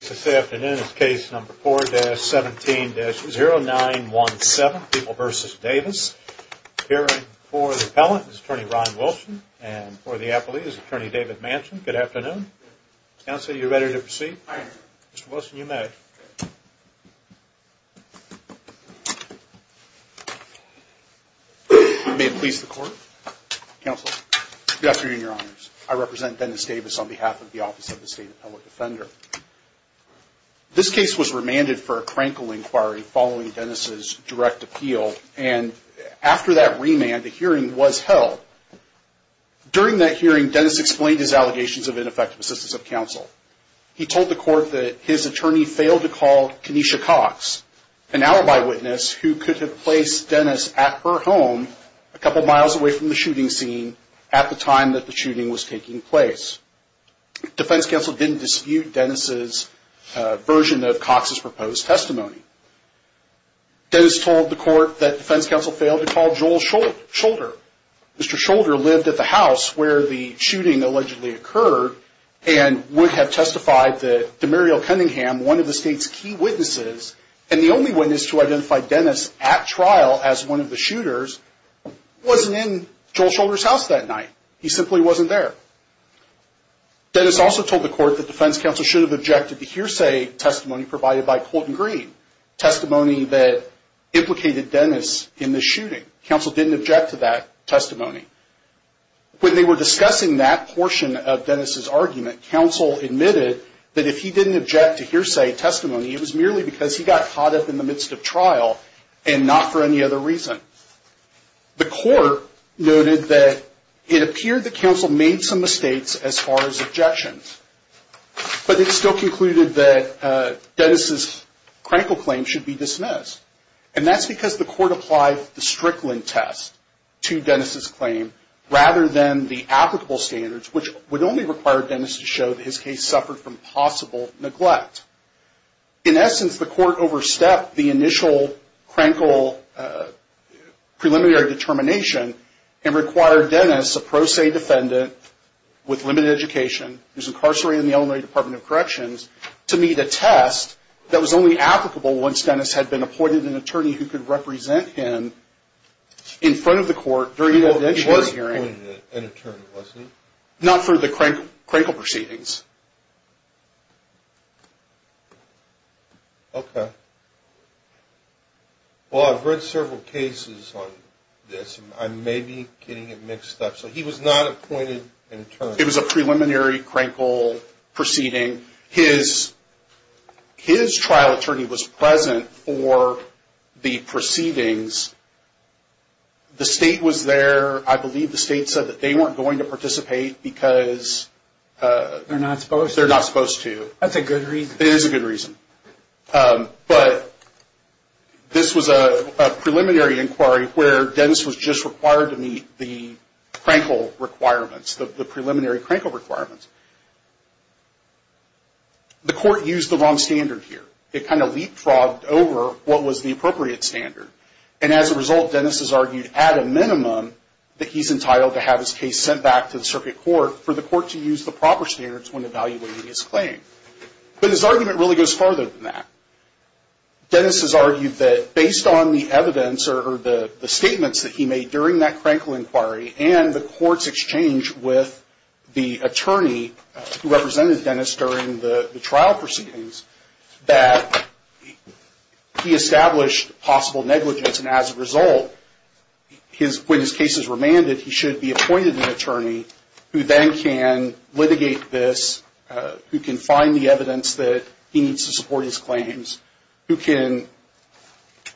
This afternoon is case number 4-17-0917, People v. Davis. Appearing for the appellant is attorney Ron Wilson and for the appellee is attorney David Manson. Good afternoon. Counsel, are you ready to proceed? Mr. Wilson, you may. May it please the court. Counsel, good afternoon, your honors. I represent Dennis Davis on behalf of the Office of the State and Public Defender. This case was remanded for a crankle inquiry following Dennis' direct appeal and after that remand, a hearing was held. During that hearing, Dennis explained his allegations of ineffective assistance of counsel. He told the court that his attorney failed to call Kenesha Cox, an alibi witness who could have placed Dennis at her home a couple miles away from the shooting scene at the time that the shooting was taking place. Defense counsel didn't dispute Dennis' version of Cox's proposed testimony. Dennis told the court that defense counsel failed to call Joel Shoulder. Mr. Shoulder lived at the house where the shooting allegedly occurred and would have testified that Demuriel Cunningham, one of the state's key witnesses and the only witness to identify Dennis at trial as one of the shooters, wasn't in Joel Shoulder's house that night. He simply wasn't there. Dennis also told the court that defense counsel should have objected to hearsay testimony provided by Colton Green, testimony that implicated Dennis in the shooting. Counsel didn't object to that testimony. When they were discussing that portion of Dennis' argument, counsel admitted that if he didn't object to hearsay testimony, it was merely because he got caught up in the midst of trial and not for any other reason. The court noted that it appeared that counsel made some mistakes as far as objections, but it still concluded that Dennis' critical claim should be dismissed. That's because the court applied the Strickland test to Dennis' claim rather than the applicable standards, which would only require Dennis to show that his case suffered from possible neglect. In essence, the court overstepped the initial Crankle preliminary determination and required Dennis, a pro se defendant with limited education, who's incarcerated in the Illinois Department of Corrections, to meet a test that was only applicable once Dennis had been appointed an attorney who could represent him in front of the court during an evidentiary hearing. Not for the Crankle proceedings. Okay. Well, I've read several cases on this, and I may be getting it mixed up. So he was not appointed an attorney. It was a preliminary Crankle proceeding. His trial attorney was present for the proceedings. The state was there. I believe the state said that they weren't going to participate because... They're not supposed to. They're not supposed to. That's a good reason. It is a good reason. But this was a preliminary inquiry where Dennis was just required to meet the Crankle requirements, the preliminary Crankle requirements. The court used the wrong standard here. It kind of leapfrogged over what was the appropriate standard. And as a result, Dennis has argued at a minimum that he's entitled to have his case sent back to the circuit court for the court to use the proper standards when evaluating his claim. But his argument really goes farther than that. Dennis has argued that based on the evidence or the statements that he made during that Crankle inquiry and the court's exchange with the attorney who represented Dennis during the trial proceedings, that he established possible negligence. And as a result, when his case is remanded, he should be appointed an attorney who then can litigate this, who can find the evidence that he needs to support his claims, who can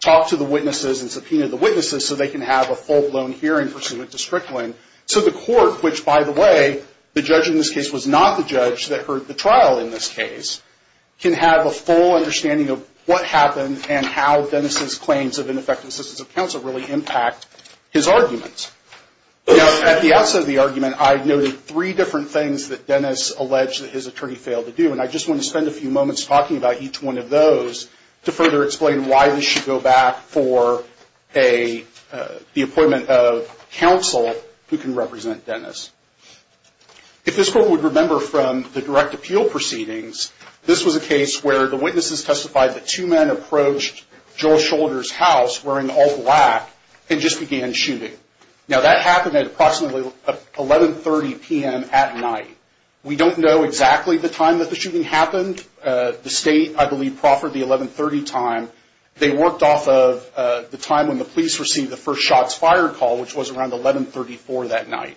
talk to the witnesses and subpoena the witnesses so they can have a full-blown hearing pursuant to Strickland. So the court, which by the way, the judge in this case was not the judge that heard the trial in this case, can have a full understanding of what happened and how Dennis's claims of ineffective assistance of counsel really impact his arguments. Now, at the outset of the case, I noted three different things that Dennis alleged that his attorney failed to do, and I just want to spend a few moments talking about each one of those to further explain why this should go back for the appointment of counsel who can represent Dennis. If this court would remember from the direct appeal proceedings, this was a case where the witnesses testified that two men approached Joel Shoulder's house wearing all black and just began shooting. Now, that happened at 1130 p.m. at night. We don't know exactly the time that the shooting happened. The state, I believe, proffered the 1130 time. They worked off of the time when the police received the first shots fired call, which was around 1134 that night.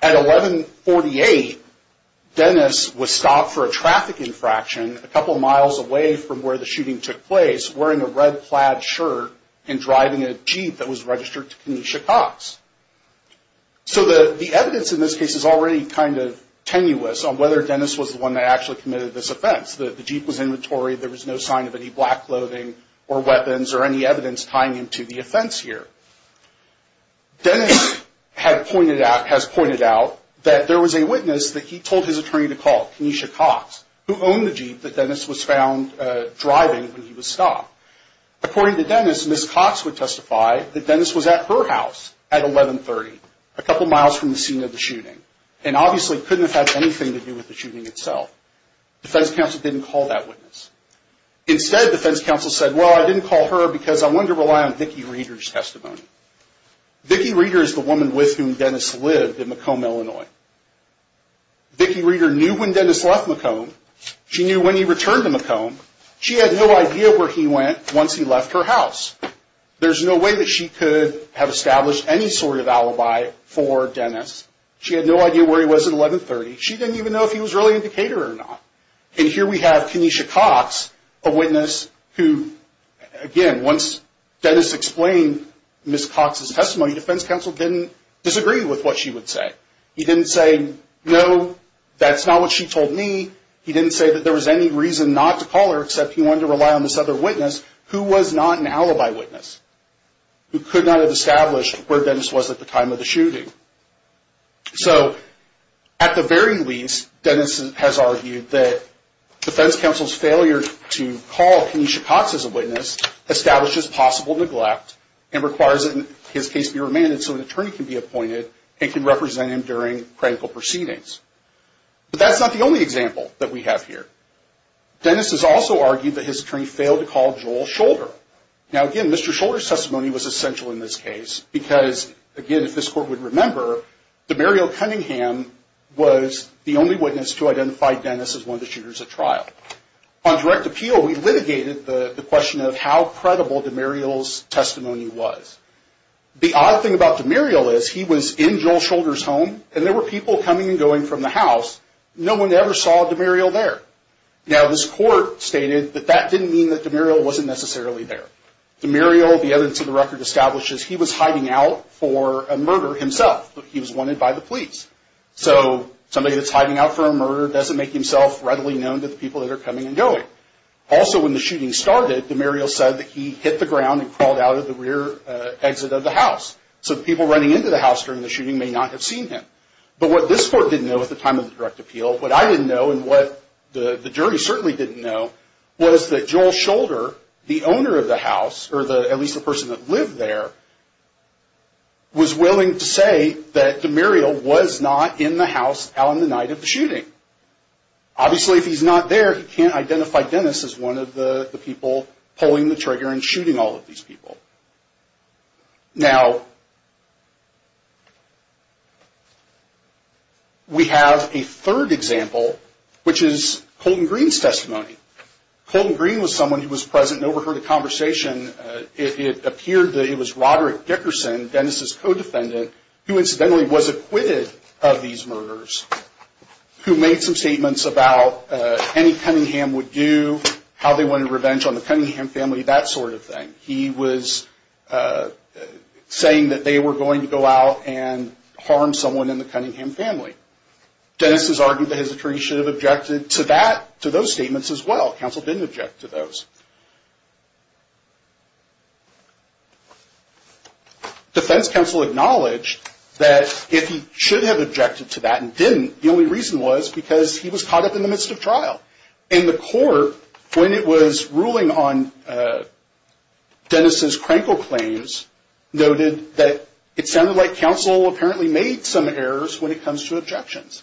At 1148, Dennis was stopped for a traffic infraction a couple miles away from where the shooting took place, wearing a red plaid shirt and driving a Jeep that was registered to Kenesha Cox. So the evidence in this case is already kind of tenuous on whether Dennis was the one that actually committed this offense. The Jeep was inventory. There was no sign of any black clothing or weapons or any evidence tying into the offense here. Dennis has pointed out that there was a witness that he told his attorney to call, Kenesha Cox, who owned the Jeep that Dennis was found driving when he was stopped. According to Miss Cox would testify that Dennis was at her house at 1130, a couple miles from the scene of the shooting, and obviously couldn't have had anything to do with the shooting itself. Defense counsel didn't call that witness. Instead, defense counsel said, well, I didn't call her because I wanted to rely on Vicki Reeder's testimony. Vicki Reeder is the woman with whom Dennis lived in Macomb, Illinois. Vicki Reeder knew when Dennis left Macomb. She knew when he returned to Macomb. She had no idea where he went once he left her house. There's no way that she could have established any sort of alibi for Dennis. She had no idea where he was at 1130. She didn't even know if he was really in Decatur or not. And here we have Kenesha Cox, a witness who, again, once Dennis explained Miss Cox's testimony, defense counsel didn't disagree with what she would say. He didn't say, no, that's not what she told me. He didn't say that there was any reason not to call her except he wanted to rely on this other witness who was not an alibi witness, who could not have established where Dennis was at the time of the shooting. So, at the very least, Dennis has argued that defense counsel's failure to call Kenesha Cox as a witness establishes possible neglect and requires that his case be remanded so an attorney can be appointed and can represent him during critical proceedings. But that's not the only example that we have here. Dennis has also argued that his attorney failed to call Joel Shoulder. Now, again, Mr. Shoulder's testimony was essential in this case because, again, if this court would remember, Demario Cunningham was the only witness to identify Dennis as one of the shooters at trial. On direct appeal, we litigated the question of how credible Demario's testimony was. The odd thing about Demario is he was in Joel Shoulder's home and there were people coming and Demario there. Now, this court stated that that didn't mean that Demario wasn't necessarily there. Demario, the evidence of the record establishes, he was hiding out for a murder himself. He was wanted by the police. So somebody that's hiding out for a murder doesn't make himself readily known to the people that are coming and going. Also, when the shooting started, Demario said that he hit the ground and crawled out of the rear exit of the house. So people running into the house during the shooting may not have seen him. But what this court didn't know at the time of the direct appeal, what I didn't know and what the jury certainly didn't know, was that Joel Shoulder, the owner of the house, or at least the person that lived there, was willing to say that Demario was not in the house on the night of the shooting. Obviously, if he's not there, he can't identify Dennis as one of the people pulling the trigger and shooting all of these people. Now, we have a third example, which is Colton Green's testimony. Colton Green was someone who was present and overheard a conversation. It appeared that it was Robert Dickerson, Dennis' co-defendant, who incidentally was acquitted of these murders, who made some statements about any Cunningham would do, how they wanted revenge on the Cunningham family, that sort of thing. He was saying that they were going to go out and harm someone in the Cunningham family. Dennis has argued that his attorney should have objected to that, to those statements as well. Counsel didn't object to those. Defense counsel acknowledged that if he should have objected to that and didn't, the only reason was because he was caught up in the midst of trial. And the court, when it was ruling on Dennis' Krenkel claims, noted that it sounded like counsel apparently made some errors when it comes to objections.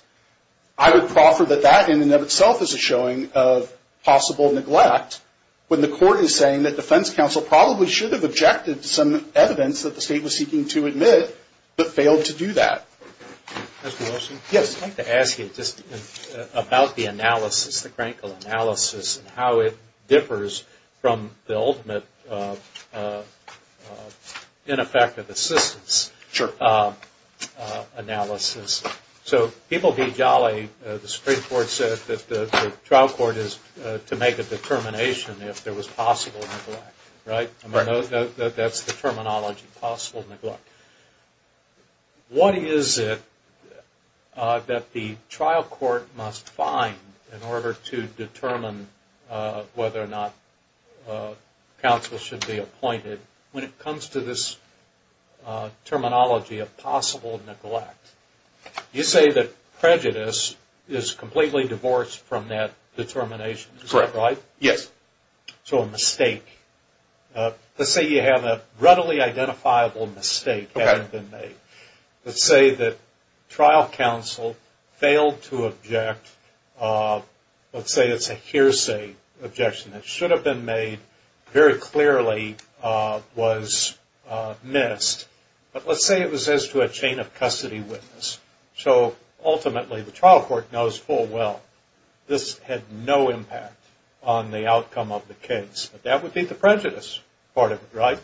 I would proffer that that in and of itself is a showing of possible neglect, when the court is saying that defense counsel probably should have objected to some evidence that the about the analysis, the Krenkel analysis, and how it differs from the ultimate ineffective assistance analysis. So people be jolly, the Supreme Court said that the trial court is to make a determination if there was possible neglect, right? That's the terminology, possible neglect. What is it that the trial court must find in order to determine whether or not counsel should be appointed when it comes to this terminology of possible neglect? You say that prejudice is completely divorced from that determination, is that right? Yes. So a mistake. Let's say you have a readily identifiable mistake that had been made. Let's say that trial counsel failed to object. Let's say it's a hearsay objection that should have been made very clearly was missed. But let's say it was as to a chain of custody witness. So ultimately the trial court knows full well this had no impact on the outcome of the case. But that would be the prejudice part of it, right?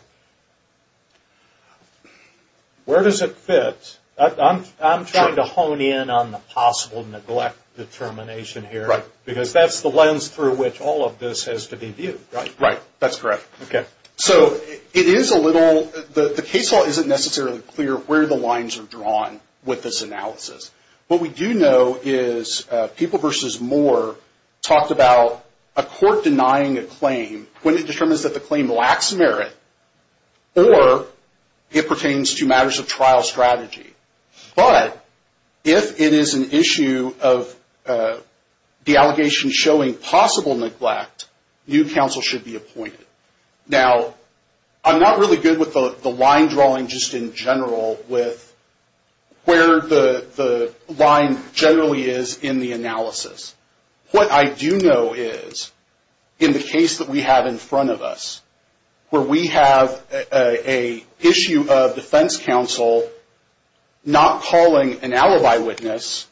Where does it fit? I'm trying to hone in on the possible neglect determination here, because that's the lens through which all of this has to be viewed, right? Right, that's correct. So it is a little, the case law isn't necessarily clear where the lines are drawn with this analysis. What we do know is People v. Moore talked about a court denying a claim when it determines that the claim lacks merit or it pertains to matters of trial strategy. But if it is an issue of the allegation showing possible neglect, new counsel should be appointed. Now, I'm not really good with the line drawing just in general with where the line generally is in the analysis. What I do know is in the case that we have in front of us, where we have a issue of defense counsel not calling an alibi witness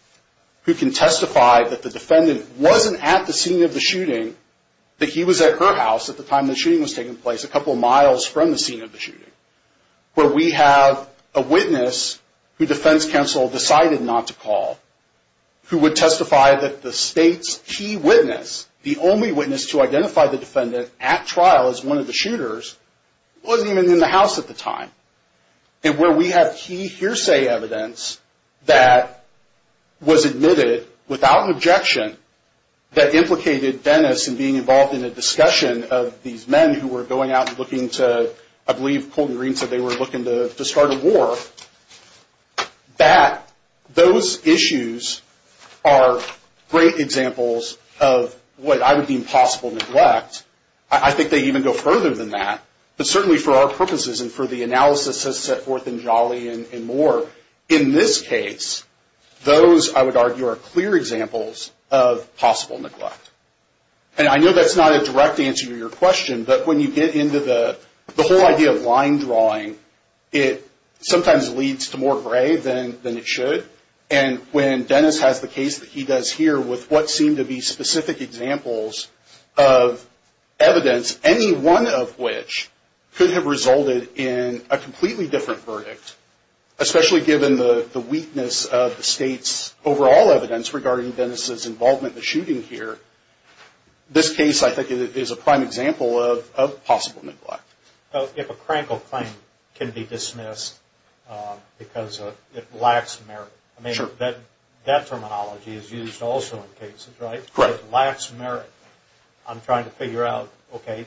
who can testify that the defendant wasn't at the scene of the shooting, that he was at her house at the time the shooting was taking place, a couple of miles from the scene of the shooting. Where we have a witness who defense counsel decided not to call, who would testify that the state's key witness, the only witness to identify the defendant at trial as one of the shooters, wasn't even in the house at the time. And where we have key hearsay evidence that was admitted without objection that implicated Dennis in being involved in a discussion of these men who were going out looking to, I believe Colton Green said they were looking to start a war, that those issues are great examples of what I would deem possible neglect. I think they even go further than that. But certainly for our purposes and for the analysis that's set forth in Jolly and more, in this case, those I would argue are clear examples of possible neglect. And I know that's not a direct answer to your question, but when you get into the whole idea of line drawing, it sometimes leads to more gray than it should. And when Dennis has the case that he does here with what seem to be specific examples of evidence, any one of which could have resulted in a completely different verdict, especially given the weakness of the state's overall evidence regarding Dennis' involvement in the shooting here, this case I think is a prime example of possible neglect. If a crankle claim can be dismissed because it lacks merit, I mean that terminology is used also in cases, right? If it lacks merit, I'm trying to figure out, okay,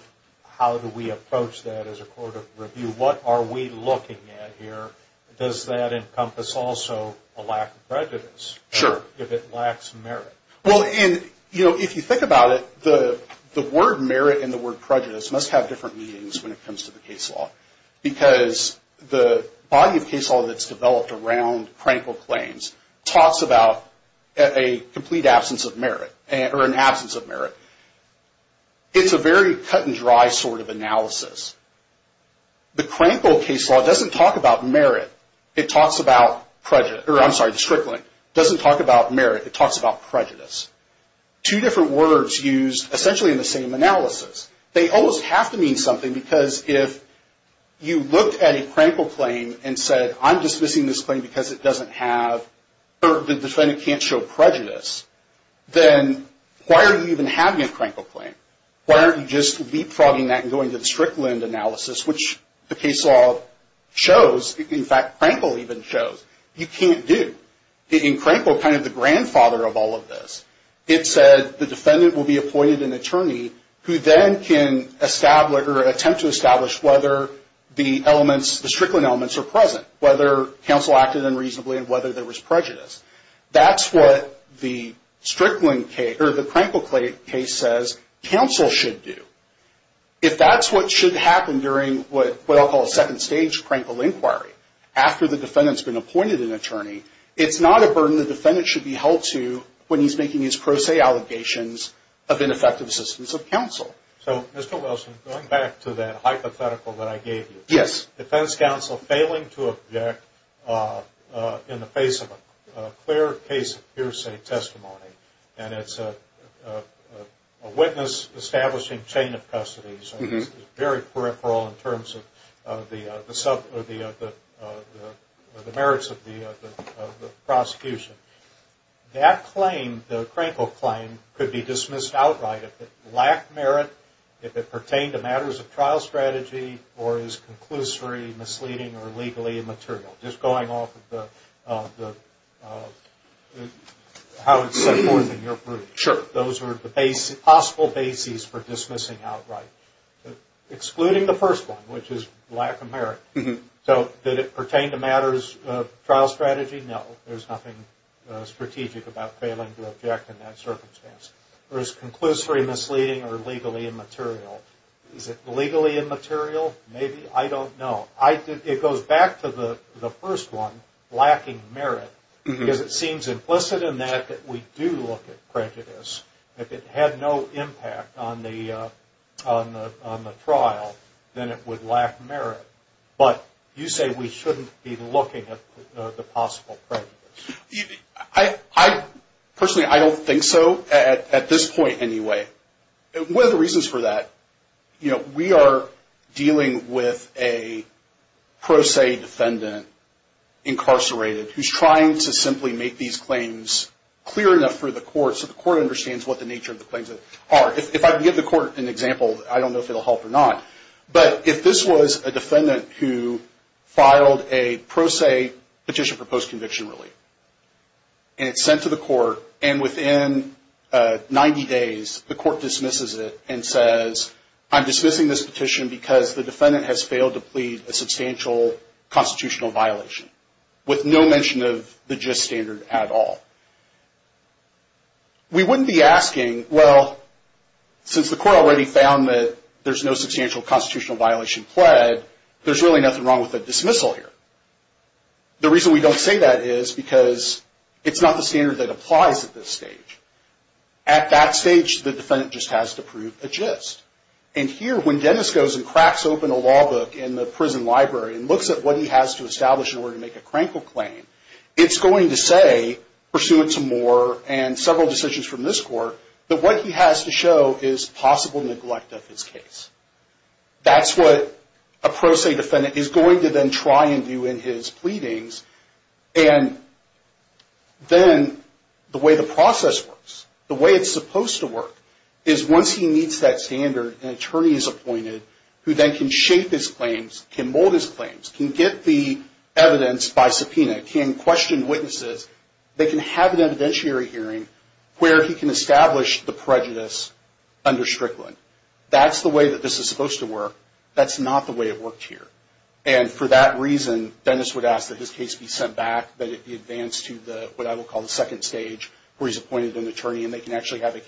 how do we approach that as a court of review? What are we looking at here? Does that encompass also a lack of prejudice if it lacks merit? Well, if you think about it, the word merit and the word prejudice must have different meanings when it comes to the case law. Because the body of case law that's developed around crankle claims talks about a complete absence of merit, or an absence of merit. It's a very cut and dry sort of analysis. The crankle case law doesn't talk about merit, it talks about prejudice, or I'm sorry, the strickling. It doesn't talk about merit, it talks about prejudice. Two different words used essentially in the same analysis. They almost have to mean something because if you look at a crankle claim and said, I'm dismissing this claim because it doesn't have, or the defendant can't show prejudice, then why are you even having a crankle claim? Why aren't you just leapfrogging that and going to the strickland analysis, which the case law shows, in fact crankle even shows, you can't do. In crankle, kind of the grandfather of all of this, it said the defendant will be appointed an attorney who then can establish, or attempt to establish whether the defendant acted unreasonably and whether there was prejudice. That's what the crankle case says counsel should do. If that's what should happen during what I'll call a second stage crankle inquiry, after the defendant's been appointed an attorney, it's not a burden the defendant should be held to when he's making these pro se allegations of ineffective assistance of counsel. So Mr. Wilson, going back to that hypothetical that I gave you. Yes. Defense counsel failing to object in the face of a clear case of hearsay testimony, and it's a witness establishing chain of custody, so it's very peripheral in terms of the merits of the prosecution. That claim, the crankle claim, could be dismissed outright if it lacked merit, if it pertained to matters of trial strategy, or is conclusory, misleading, or legally immaterial. Just going off of how it's set forth in your group. Sure. Those are the possible bases for dismissing outright. Excluding the first one, which is lack of merit. So did it pertain to matters of trial strategy? No. There's nothing strategic about failing to object in that circumstance. Or is it conclusory, misleading, or legally immaterial? Is it legally immaterial? Maybe. I don't know. It goes back to the first one, lacking merit, because it seems implicit in that that we do look at the possible prejudice. Personally, I don't think so at this point anyway. One of the reasons for that, we are dealing with a pro se defendant, incarcerated, who's trying to simply make these claims clear enough for the court so the court understands what the nature of the claims are. If I can give the court an example, I don't know if it will help or not, but if this was a defendant who filed a pro se petition for post-conviction relief, and it's sent to the court, and within 90 days, the court dismisses it and says, I'm dismissing this petition because the defendant has failed to plead a substantial constitutional violation, with no mention of the gist standard at all. We wouldn't be asking, well, since the court already found that there's no substantial constitutional violation pled, there's really nothing wrong with a dismissal here. The reason we don't say that is because it's not the standard that applies at this stage. At that stage, the defendant just has to prove a gist. And here, when Dennis goes and cracks open a law book in the prison library and looks at what he has to establish in order to pursue it some more and several decisions from this court, that what he has to show is possible neglect of his case. That's what a pro se defendant is going to then try and do in his pleadings. And then the way the process works, the way it's supposed to work, is once he meets that standard, an attorney is appointed who then can shape his claims, can mold his claims, can get the evidence by subpoena, can question witnesses, they can have an evidentiary hearing where he can establish the prejudice under Strickland. That's the way that this is supposed to work. That's not the way it worked here. And for that reason, Dennis would ask that his case be sent back, that it be advanced to what I would call the second stage, where he's appointed an attorney and they can actually have a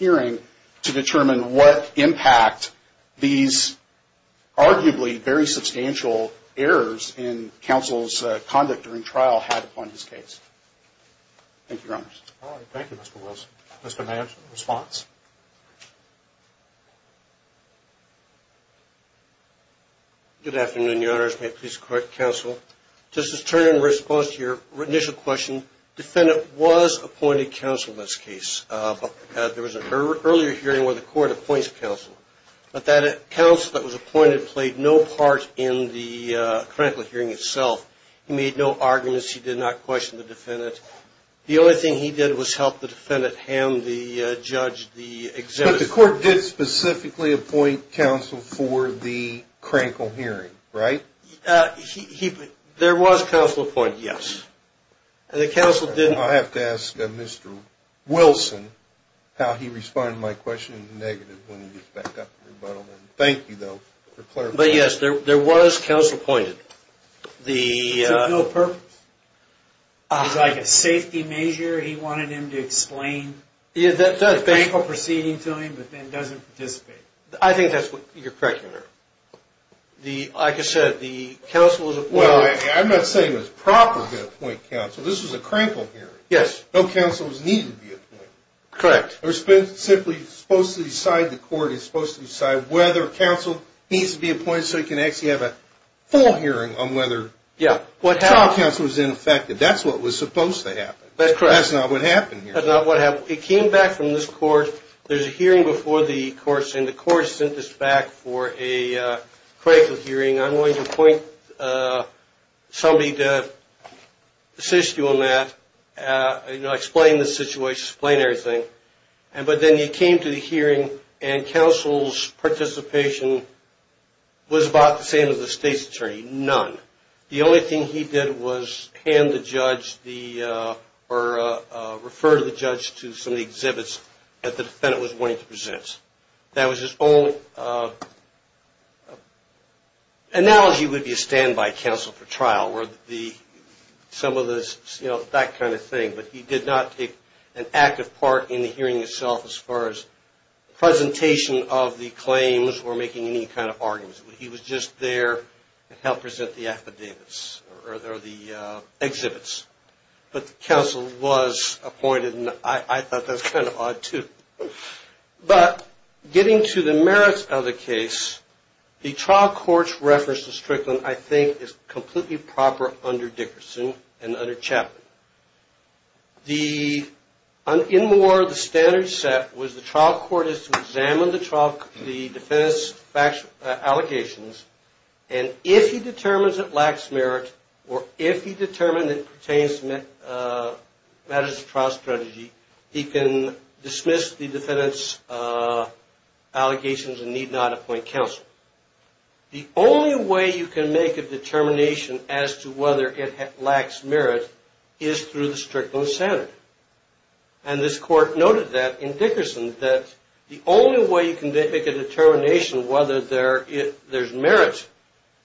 very substantial errors in counsel's conduct during trial had upon his case. Thank you, Your Honors. All right. Thank you, Mr. Wills. Mr. Manch, response? Good afternoon, Your Honors. May it please the court, counsel. Just to turn in response to your initial question, defendant was appointed counsel in this case. There was an earlier hearing where the court appoints counsel. But that counsel that was appointed played no part in the Krankel hearing itself. He made no arguments. He did not question the defendant. The only thing he did was help the defendant hand the judge the exemption. But the court did specifically appoint counsel for the Krankel hearing, right? There was counsel appointed, yes. And the counsel didn't... I'm going to ask Mr. Wilson how he responded to my question in the negative when he gets back up to rebuttal. Thank you, though, for clarifying. But, yes, there was counsel appointed. It was like a safety measure. He wanted him to explain the Krankel proceeding to him, but then doesn't participate. I think that's what you're correcting there. Like I said, the counsel was appointed... Well, I'm not saying it was proper to appoint counsel. This was a Krankel hearing. Yes. No counsel was needed to be appointed. Correct. It was simply supposed to decide, the court is supposed to decide whether counsel needs to be appointed so he can actually have a full hearing on whether counsel was ineffective. That's what was supposed to happen. That's correct. That's not what happened here. That's not what happened. It came back from this court. There's a hearing before the court, and the court sent this back for a Krankel hearing. I'm going to appoint somebody to assist you on that, explain the situation, explain everything. But then he came to the hearing, and counsel's participation was about the same as the state's attorney. None. The only thing he did was hand the judge, or refer the judge to some of the exhibits that the defendant was wanting to present. That was his only... analogy would be a standby counsel for trial, where some of the... that kind of thing. But he did not take an active part in the hearing itself as far as presentation of the claims or making any kind of arguments. He was just there to help present the affidavits, or the exhibits. But the counsel was appointed, and I thought that's kind of odd, too. But, getting to the merits of the case, the trial court's reference to Strickland, I think, is completely proper under Dickerson and under Chapman. The... anymore the standard set was the trial court is to examine the defendant's allegations, and if he determines it lacks merit, or if he determines it pertains to matters of trial strategy, he can dismiss the defendant's allegations and need not appoint counsel. The only way you can make a determination as to whether it lacks merit is through the Strickland standard. And this court noted that, in Dickerson, that the only way you can make a determination whether there's merit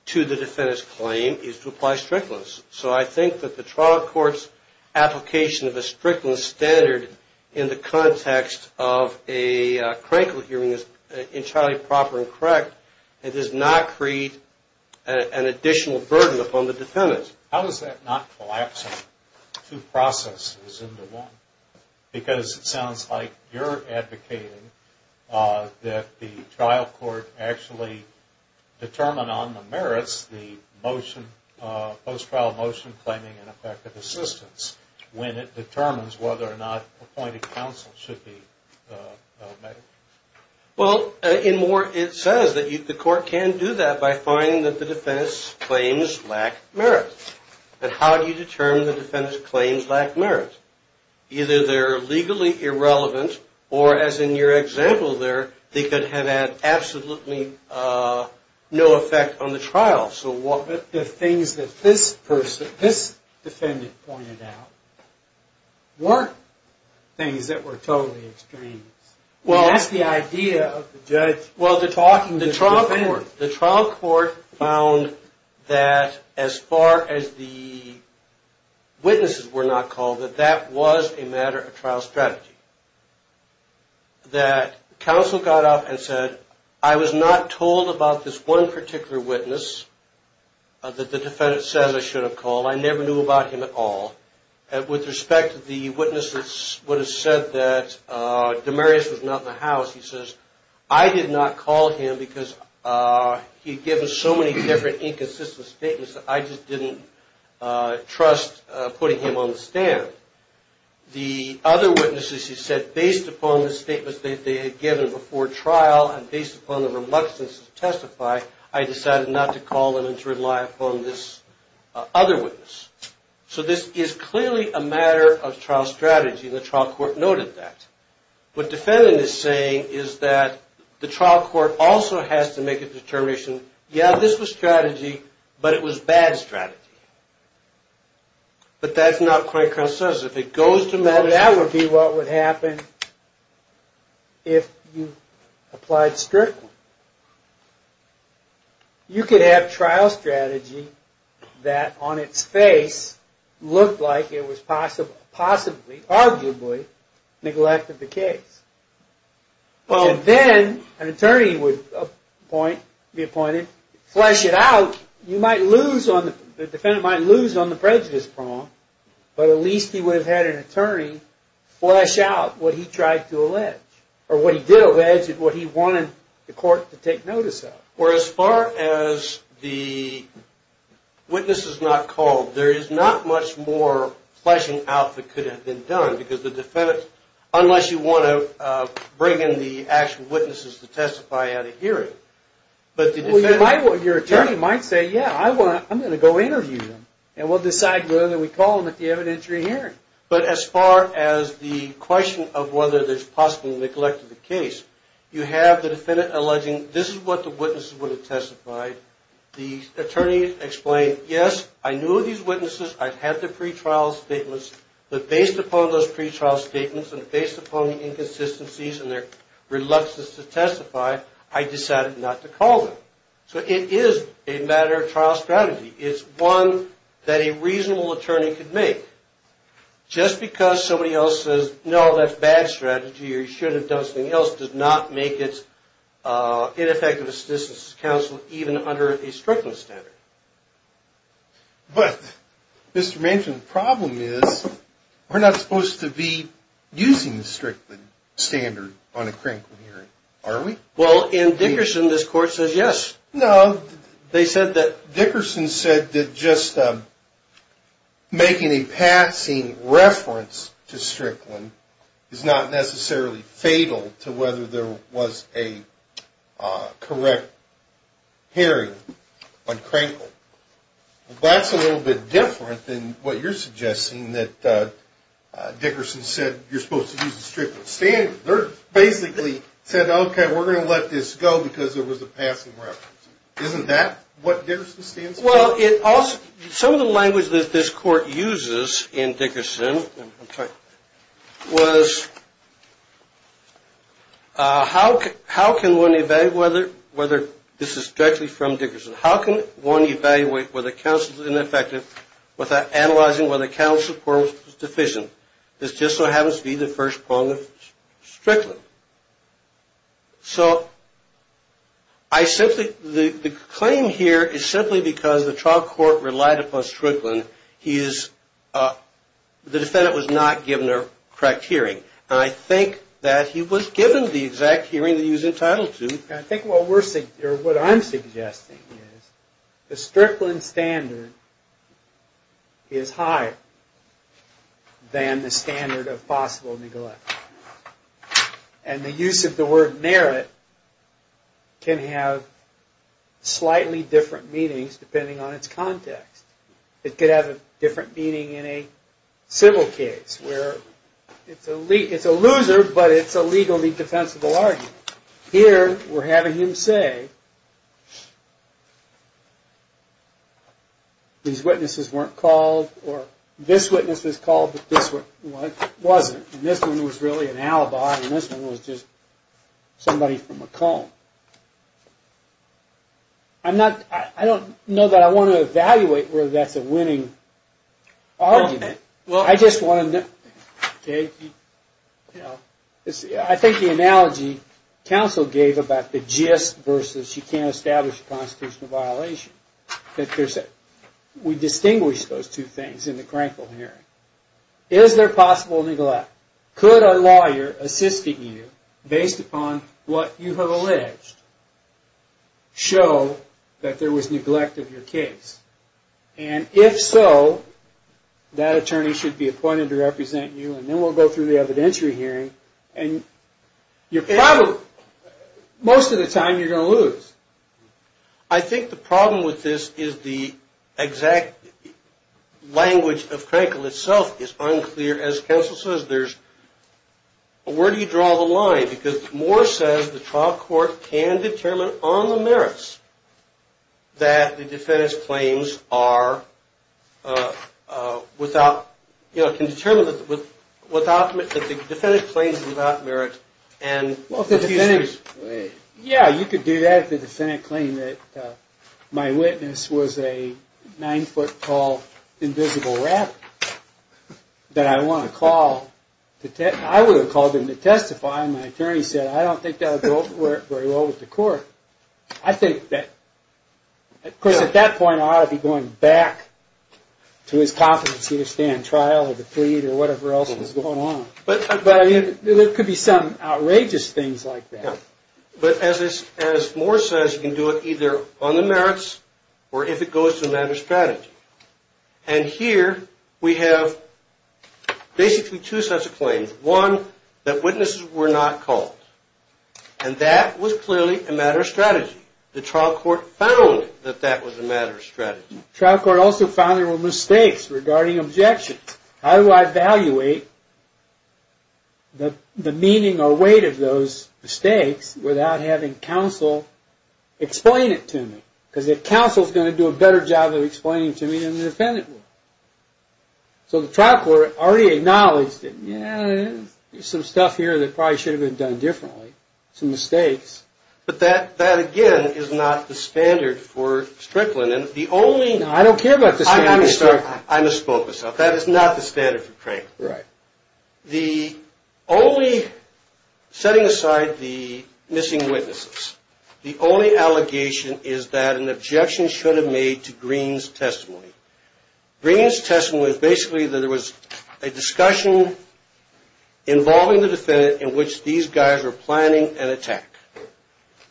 to the defendant's claim is to apply Strickland's. So, I think that the trial court's application of a Strickland standard in the context of a crankle hearing is entirely proper and correct. It does not create an additional burden upon the defendant. How is that not collapsing two processes into one? Because it sounds like you're advocating that the trial court actually determine on the merits the motion, the post-trial motion, claiming an effective assistance, when it determines whether or not appointing counsel should be made. Well, in more, it says that the court can do that by finding that the defendant's claims lack merit. And how do you determine the defendant's claims lack merit? Either they're legally irrelevant, or, as in your example there, they could have had absolutely no effect on the trial. The things that this person, this defendant pointed out, weren't things that were totally extremes. That's the idea of the judge. The trial court found that, as far as the witnesses were not called, that that was a matter of trial strategy. That counsel got up and said, I was not told about this one particular witness. That the defendant said I should have called. I never knew about him at all. With respect to the witness that would have said that Demarius was not in the house, he says, I did not call him because he had given so many different inconsistent statements that I just didn't trust putting him on the stand. The other witnesses, he said, based upon the statements that they had given before trial, and based upon the reluctance to testify, I decided not to call them and to rely upon this other witness. So this is clearly a matter of trial strategy, and the trial court noted that. What defendant is saying is that the trial court also has to make a determination, yeah, this was strategy, but it was bad strategy. But that's not quite consensual. That would be what would happen if you applied strictly. You could have trial strategy that, on its face, looked like it was possibly, arguably, neglected the case. And then an attorney would be appointed, flesh it out, the defendant might lose on the prejudice prong, but at least he would have had an attorney flesh out what he tried to allege, or what he did allege, what he wanted the court to take notice of. Well, as far as the witness is not called, there is not much more fleshing out that could have been done, unless you want to bring in the actual witnesses to testify at a hearing. Your attorney might say, yeah, I'm going to go interview them, and we'll decide whether we call them at the evidentiary hearing. But as far as the question of whether there's possibly neglect of the case, you have the defendant alleging, this is what the witnesses would have testified, the attorney explained, yes, I knew of these witnesses, I've had their pre-trial statements, but based upon those pre-trial statements, and based upon the inconsistencies and their reluctance to testify, I decided not to call them. So it is a matter of trial strategy. It's one that a reasonable attorney could make. Just because somebody else says, no, that's bad strategy, or you should have done something else, does not make it ineffective assistance to counsel, even under a Strickland standard. But, Mr. Manchin, the problem is, we're not supposed to be using the Strickland standard on a Cranklin hearing, are we? Well, in Dickerson, this court says yes. No, they said that Dickerson said that just making a passing reference to Strickland is not necessarily fatal to whether there was a correct hearing on Cranklin. That's a little bit different than what you're suggesting, that Dickerson said, you're supposed to use the Strickland standard. They basically said, okay, we're going to let this go because there was a passing reference. Isn't that what Dickerson stands for? Some of the language that this court uses in Dickerson was, how can one evaluate whether, this is directly from Dickerson, how can one evaluate whether counsel is ineffective without analyzing whether counsel is in the first quorum's decision? This just so happens to be the first quorum of Strickland. The claim here is simply because the trial court relied upon Strickland. The defendant was not given a correct hearing. I think that he was given the exact hearing that he was entitled to. What I'm suggesting is the Strickland standard is higher than the standard of possible neglect. The use of the word merit can have slightly different meanings depending on its context. It could have a different meaning in a civil case where it's a loser, but it's a legally defensible argument. Here, we're having him say, these witnesses weren't called, or this witness was called, but this one wasn't. This one was really an alibi, and this one was just somebody from Macomb. I don't know that I want to evaluate whether that's a winning argument. I think the analogy counsel gave about the gist versus, you can't establish a constitutional violation, we distinguish those two things in the Crankville hearing. Is there possible neglect? Could a lawyer assist you based upon what you have alleged show that there was neglect of your case? If so, that attorney should be appointed to represent you, and then we'll go through the evidentiary hearing. Most of the time, you're going to lose. I think the problem with this is the exact language of Crankville itself is unclear. As counsel says, where do you draw the line? Because Moore says the trial court can determine on the merits that the defendant's claims are without, can determine that the defendant's claims are without merit. Yeah, you could do that if the defendant claimed that my witness was a nine foot tall invisible rabbit that I would have called him to testify and my attorney said, I don't think that would go very well with the court. Of course, at that point, I ought to be going back to his competency to stand trial or the plea or whatever else was going on. There could be some outrageous things like that. But as Moore says, you can do it either on the merits or if it goes to the matter of strategy. And here, we have basically two sets of claims. One, that witnesses were not called, and that was clearly a matter of strategy. The trial court found that that was a matter of strategy. The trial court also found there were mistakes regarding objections. How do I evaluate the meaning or weight of those mistakes without having counsel explain it to me? Because the counsel is going to do a better job of explaining it to me than the defendant will. So the trial court already acknowledged that, yeah, there's some stuff here that probably should have been done differently. Some mistakes. But that, again, is not the standard for Strickland. I don't care about the standard. The only, setting aside the missing witnesses, the only allegation is that an objection should have been made to Green's testimony. Green's testimony was basically that there was a discussion involving the defendant in which these guys were planning an attack.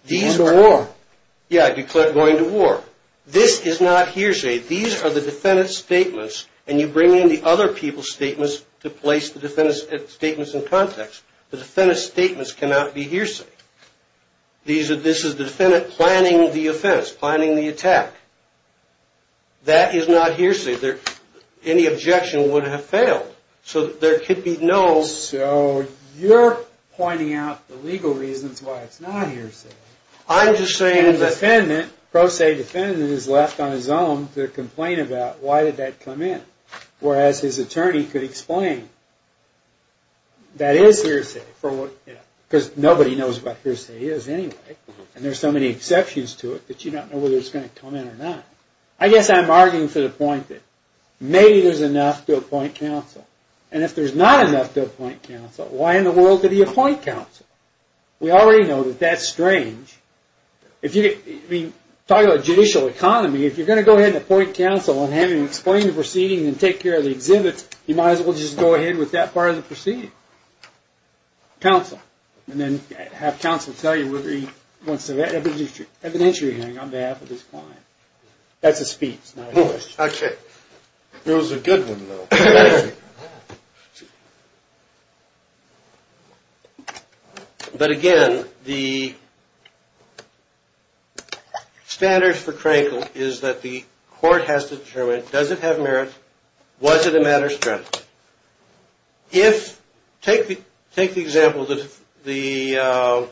Yeah, going to war. This is not hearsay. These are the defendant's statements, and you bring in the other people's statements to place the defendant's statements in context. The defendant's statements cannot be hearsay. This is the defendant planning the offense, planning the attack. That is not hearsay. Any objection would have failed. So there could be no... So you're pointing out the legal reasons why it's not hearsay. I'm just saying the defendant, pro se defendant, is left on his own to complain about why did that come in. Whereas his attorney could explain that is hearsay. Because nobody knows what hearsay is anyway. And there's so many exceptions to it that you don't know whether it's going to come in or not. I guess I'm arguing for the point that maybe there's enough to appoint counsel. And if there's not enough to appoint counsel, why in the world did he appoint counsel? We already know that that's strange. Talking about judicial economy, if you're going to go ahead and appoint counsel and have him explain the proceedings and take care of the exhibits, you might as well just go ahead with that part of the proceeding. Counsel. And then have counsel tell you whether he wants to have an entry hearing on behalf of his client. That's a speech, not a question. It was a good one, though. But again, the standards for Crankle is that the court has to determine, does it have merit? Was it a matter of strength? Take the example that the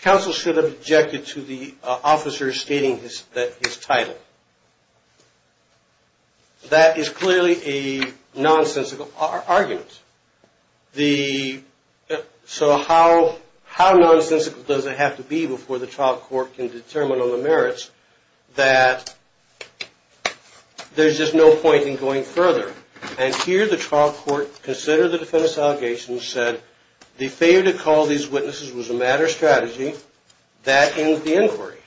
counsel should have objected to the officer stating his title. That is clearly a nonsensical argument. So how nonsensical does it have to be before the trial court can determine on the merits that there's just no point in going further? And here the trial court considered the defendant's allegations, said the failure to call these witnesses was a matter of strategy. That ends the inquiry.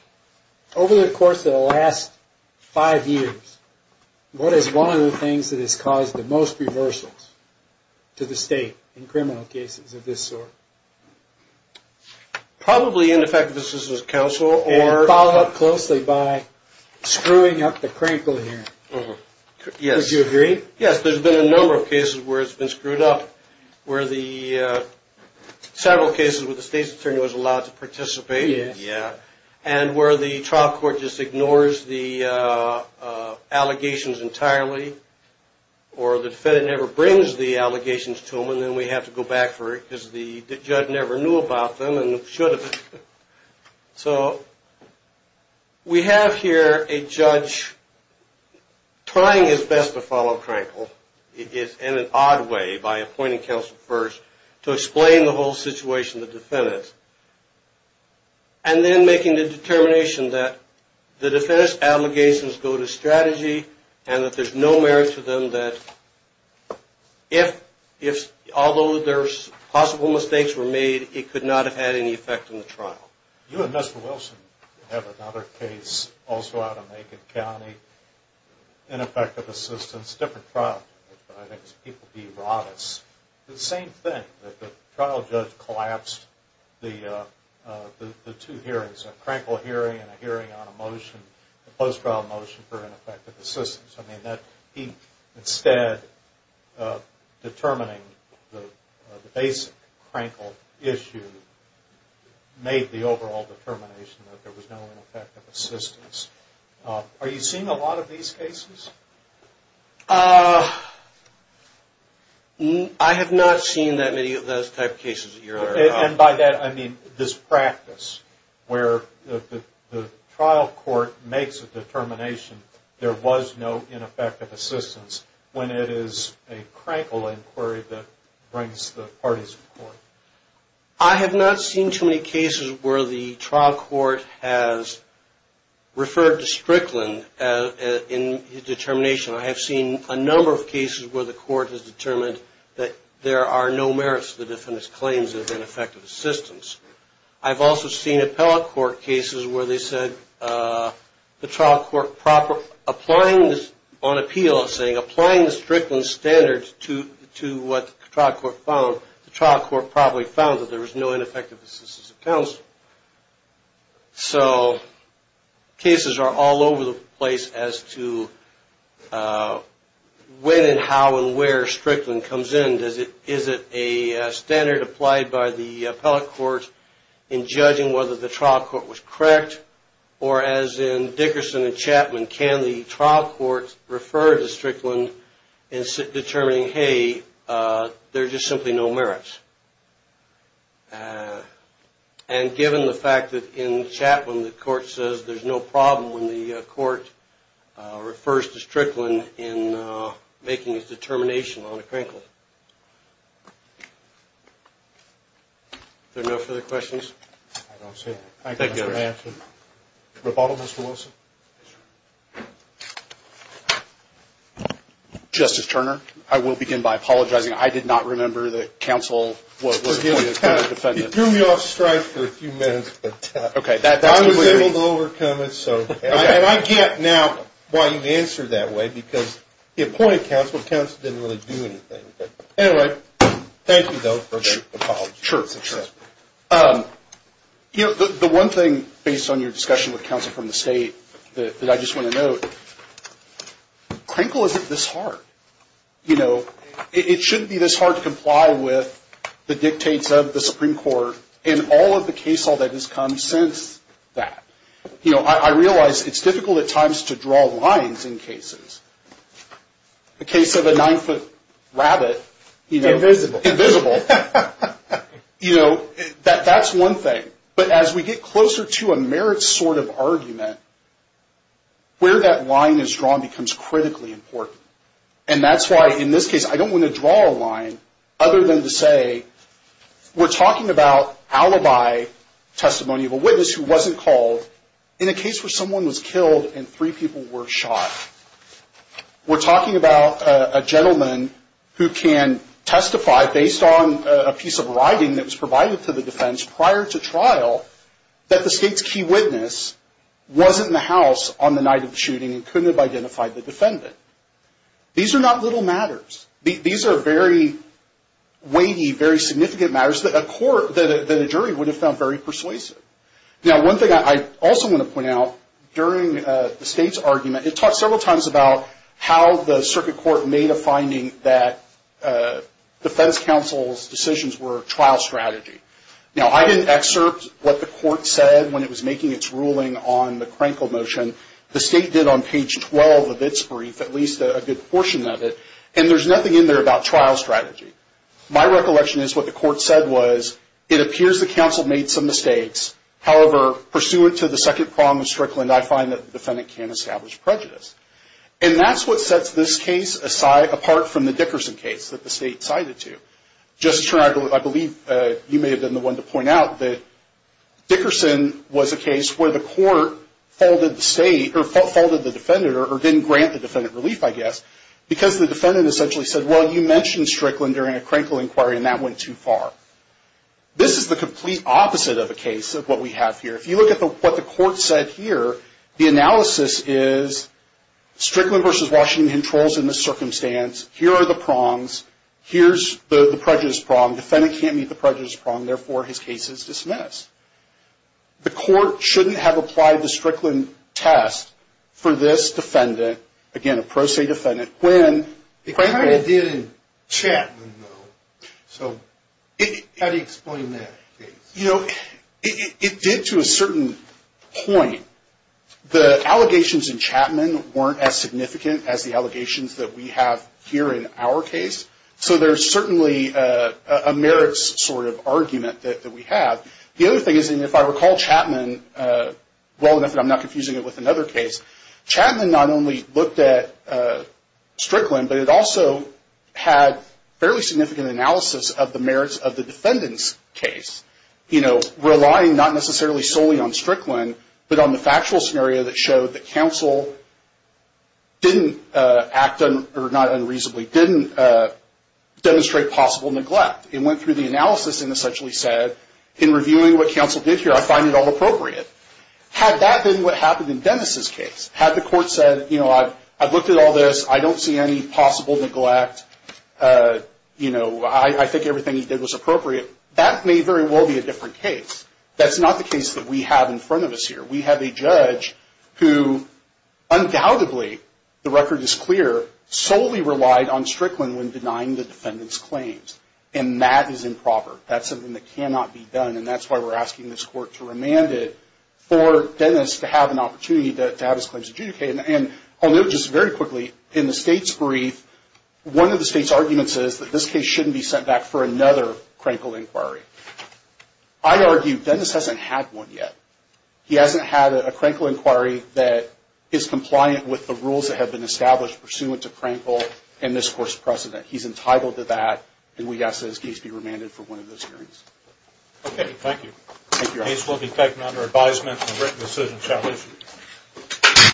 Over the course of the last five years, what is one of the things that has caused the most reversals to the state in criminal cases of this sort? Probably ineffective assistance of counsel. And followed up closely by screwing up the Crankle hearing. Would you agree? Yes, there's been a number of cases where it's been screwed up. Several cases where the state's attorney was allowed to participate. And where the trial court just ignores the allegations entirely. Or the defendant never brings the allegations to them and then we have to go back for it because the judge never knew about them and should have. So we have here a judge trying his best to follow Crankle. In an odd way by appointing counsel first to explain the whole situation to the defendant. And then making the determination that the defendant's allegations go to strategy and that there's no merit to them. So that if, although there's possible mistakes were made, it could not have had any effect on the trial. You and Mr. Wilson have another case also out of Macon County. Ineffective assistance, different trial. The trial judge collapsed the two hearings. A Crankle hearing and a hearing on a motion, a post-trial motion for ineffective assistance. I mean that he instead of determining the basic Crankle issue made the overall determination that there was no ineffective assistance. Are you seeing a lot of these cases? I have not seen that many of those type of cases. And by that I mean this practice where the trial court makes a determination there was no ineffective assistance when it is a Crankle inquiry that brings the parties to court. I have not seen too many cases where the trial court makes a determination. I have seen a number of cases where the court has determined that there are no merits to the defendant's claims of ineffective assistance. I've also seen appellate court cases where they said the trial court on appeal saying applying the Strickland standards to what the trial court found, the trial court probably found that there was no ineffective assistance of counsel. So cases are all over the place as to when and how and where Strickland comes in. Is it a standard applied by the appellate court in judging whether the trial court was correct or as in Dickerson and Chapman, can the trial court refer to Strickland in determining hey, there's just simply no merits. And given the fact that in Chapman the court says there's no problem when the court refers to Strickland in making its determination on a Crankle. Are there no further questions? I don't see any. Thank you. Rebuttal Mr. Wilson. Justice Turner, I will begin by apologizing. I did not remember that counsel was appointed as a defendant. I was able to overcome it. And I get now why you answered that way because the appointed counsel didn't really do anything. Anyway, thank you for the apology. The one thing based on your discussion with counsel from the state that I just want to note, Crankle isn't this hard. It shouldn't be this hard to comply with the dictates of the Supreme Court in all of the case law that has come since that. I realize it's difficult at times to draw lines in cases. A case of a nine-foot rabbit. Invisible. That's one thing. But as we get closer to a merits sort of argument, where that line is drawn becomes critically important. And that's why in this case I don't want to draw a line other than to say we're talking about alibi testimony of a witness who wasn't called in a case where someone was killed and three people were shot. We're talking about a gentleman who can testify based on a piece of writing that was provided to the defense prior to trial that the state's key witness wasn't in the house on the night of the shooting and couldn't have identified the defendant. These are not little matters. These are very weighty, very significant matters that a jury would have found very persuasive. During the state's argument, it talked several times about how the circuit court made a finding that defense counsel's decisions were trial strategy. Now, I didn't excerpt what the court said when it was making its ruling on the Crankle motion. The state did on page 12 of its brief at least a good part of what it said was, it appears the counsel made some mistakes. However, pursuant to the second prong of Strickland, I find that the defendant can't establish prejudice. And that's what sets this case apart from the Dickerson case that the state cited to. Justice Turner, I believe you may have been the one to point out that Dickerson was a case where the court faulted the defendant or didn't grant the defendant relief, I guess, because the defendant essentially said, well, you mentioned Strickland during a Crankle inquiry and that went too far. This is the complete opposite of a case of what we have here. If you look at what the court said here, the analysis is Strickland versus Washington controls in this circumstance. Here are the prongs. Here's the prejudice prong. Defendant can't meet the prejudice prong. Therefore, his case is dismissed. The court shouldn't have applied the Strickland test for this defendant, again, a pro se defendant, when... How do you explain that? It did to a certain point. The allegations in Chapman weren't as significant as the allegations that we have here in our case. So there's certainly a merits sort of argument that we have. The other thing is, if I recall Chapman well enough, and I'm not confusing it with another case, Chapman not only looked at Strickland, but it also had fairly significant analysis of the merits of the defendant's case, relying not necessarily solely on Strickland, but on the factual scenario that showed that counsel didn't act, or not unreasonably, didn't demonstrate possible neglect. It went through the analysis and essentially said, in reviewing what counsel did here, I find it all appropriate. Had that been what happened in Dennis' case, had the court said, you know, I've looked at all this. I don't see any possible neglect. I think everything he did was appropriate. That may very well be a different case. That's not the case that we have in front of us here. We have a judge who undoubtedly, the record is clear, solely relied on Strickland when denying the defendant's claims. And that is improper. That's something that cannot be done. And that's why we're asking this court to remand it for Dennis to have an opportunity to have his claims adjudicated. And I'll note just very quickly, in the State's brief, one of the State's arguments is that this case shouldn't be sent back for another Crankle inquiry. I argue Dennis hasn't had one yet. He hasn't had a Crankle inquiry that is compliant with the rules that have been established pursuant to Crankle and this court's precedent. He's entitled to that, and we ask that his case be remanded for one of those hearings. Thank you. The case will be taken under advisement and written decision shall issue.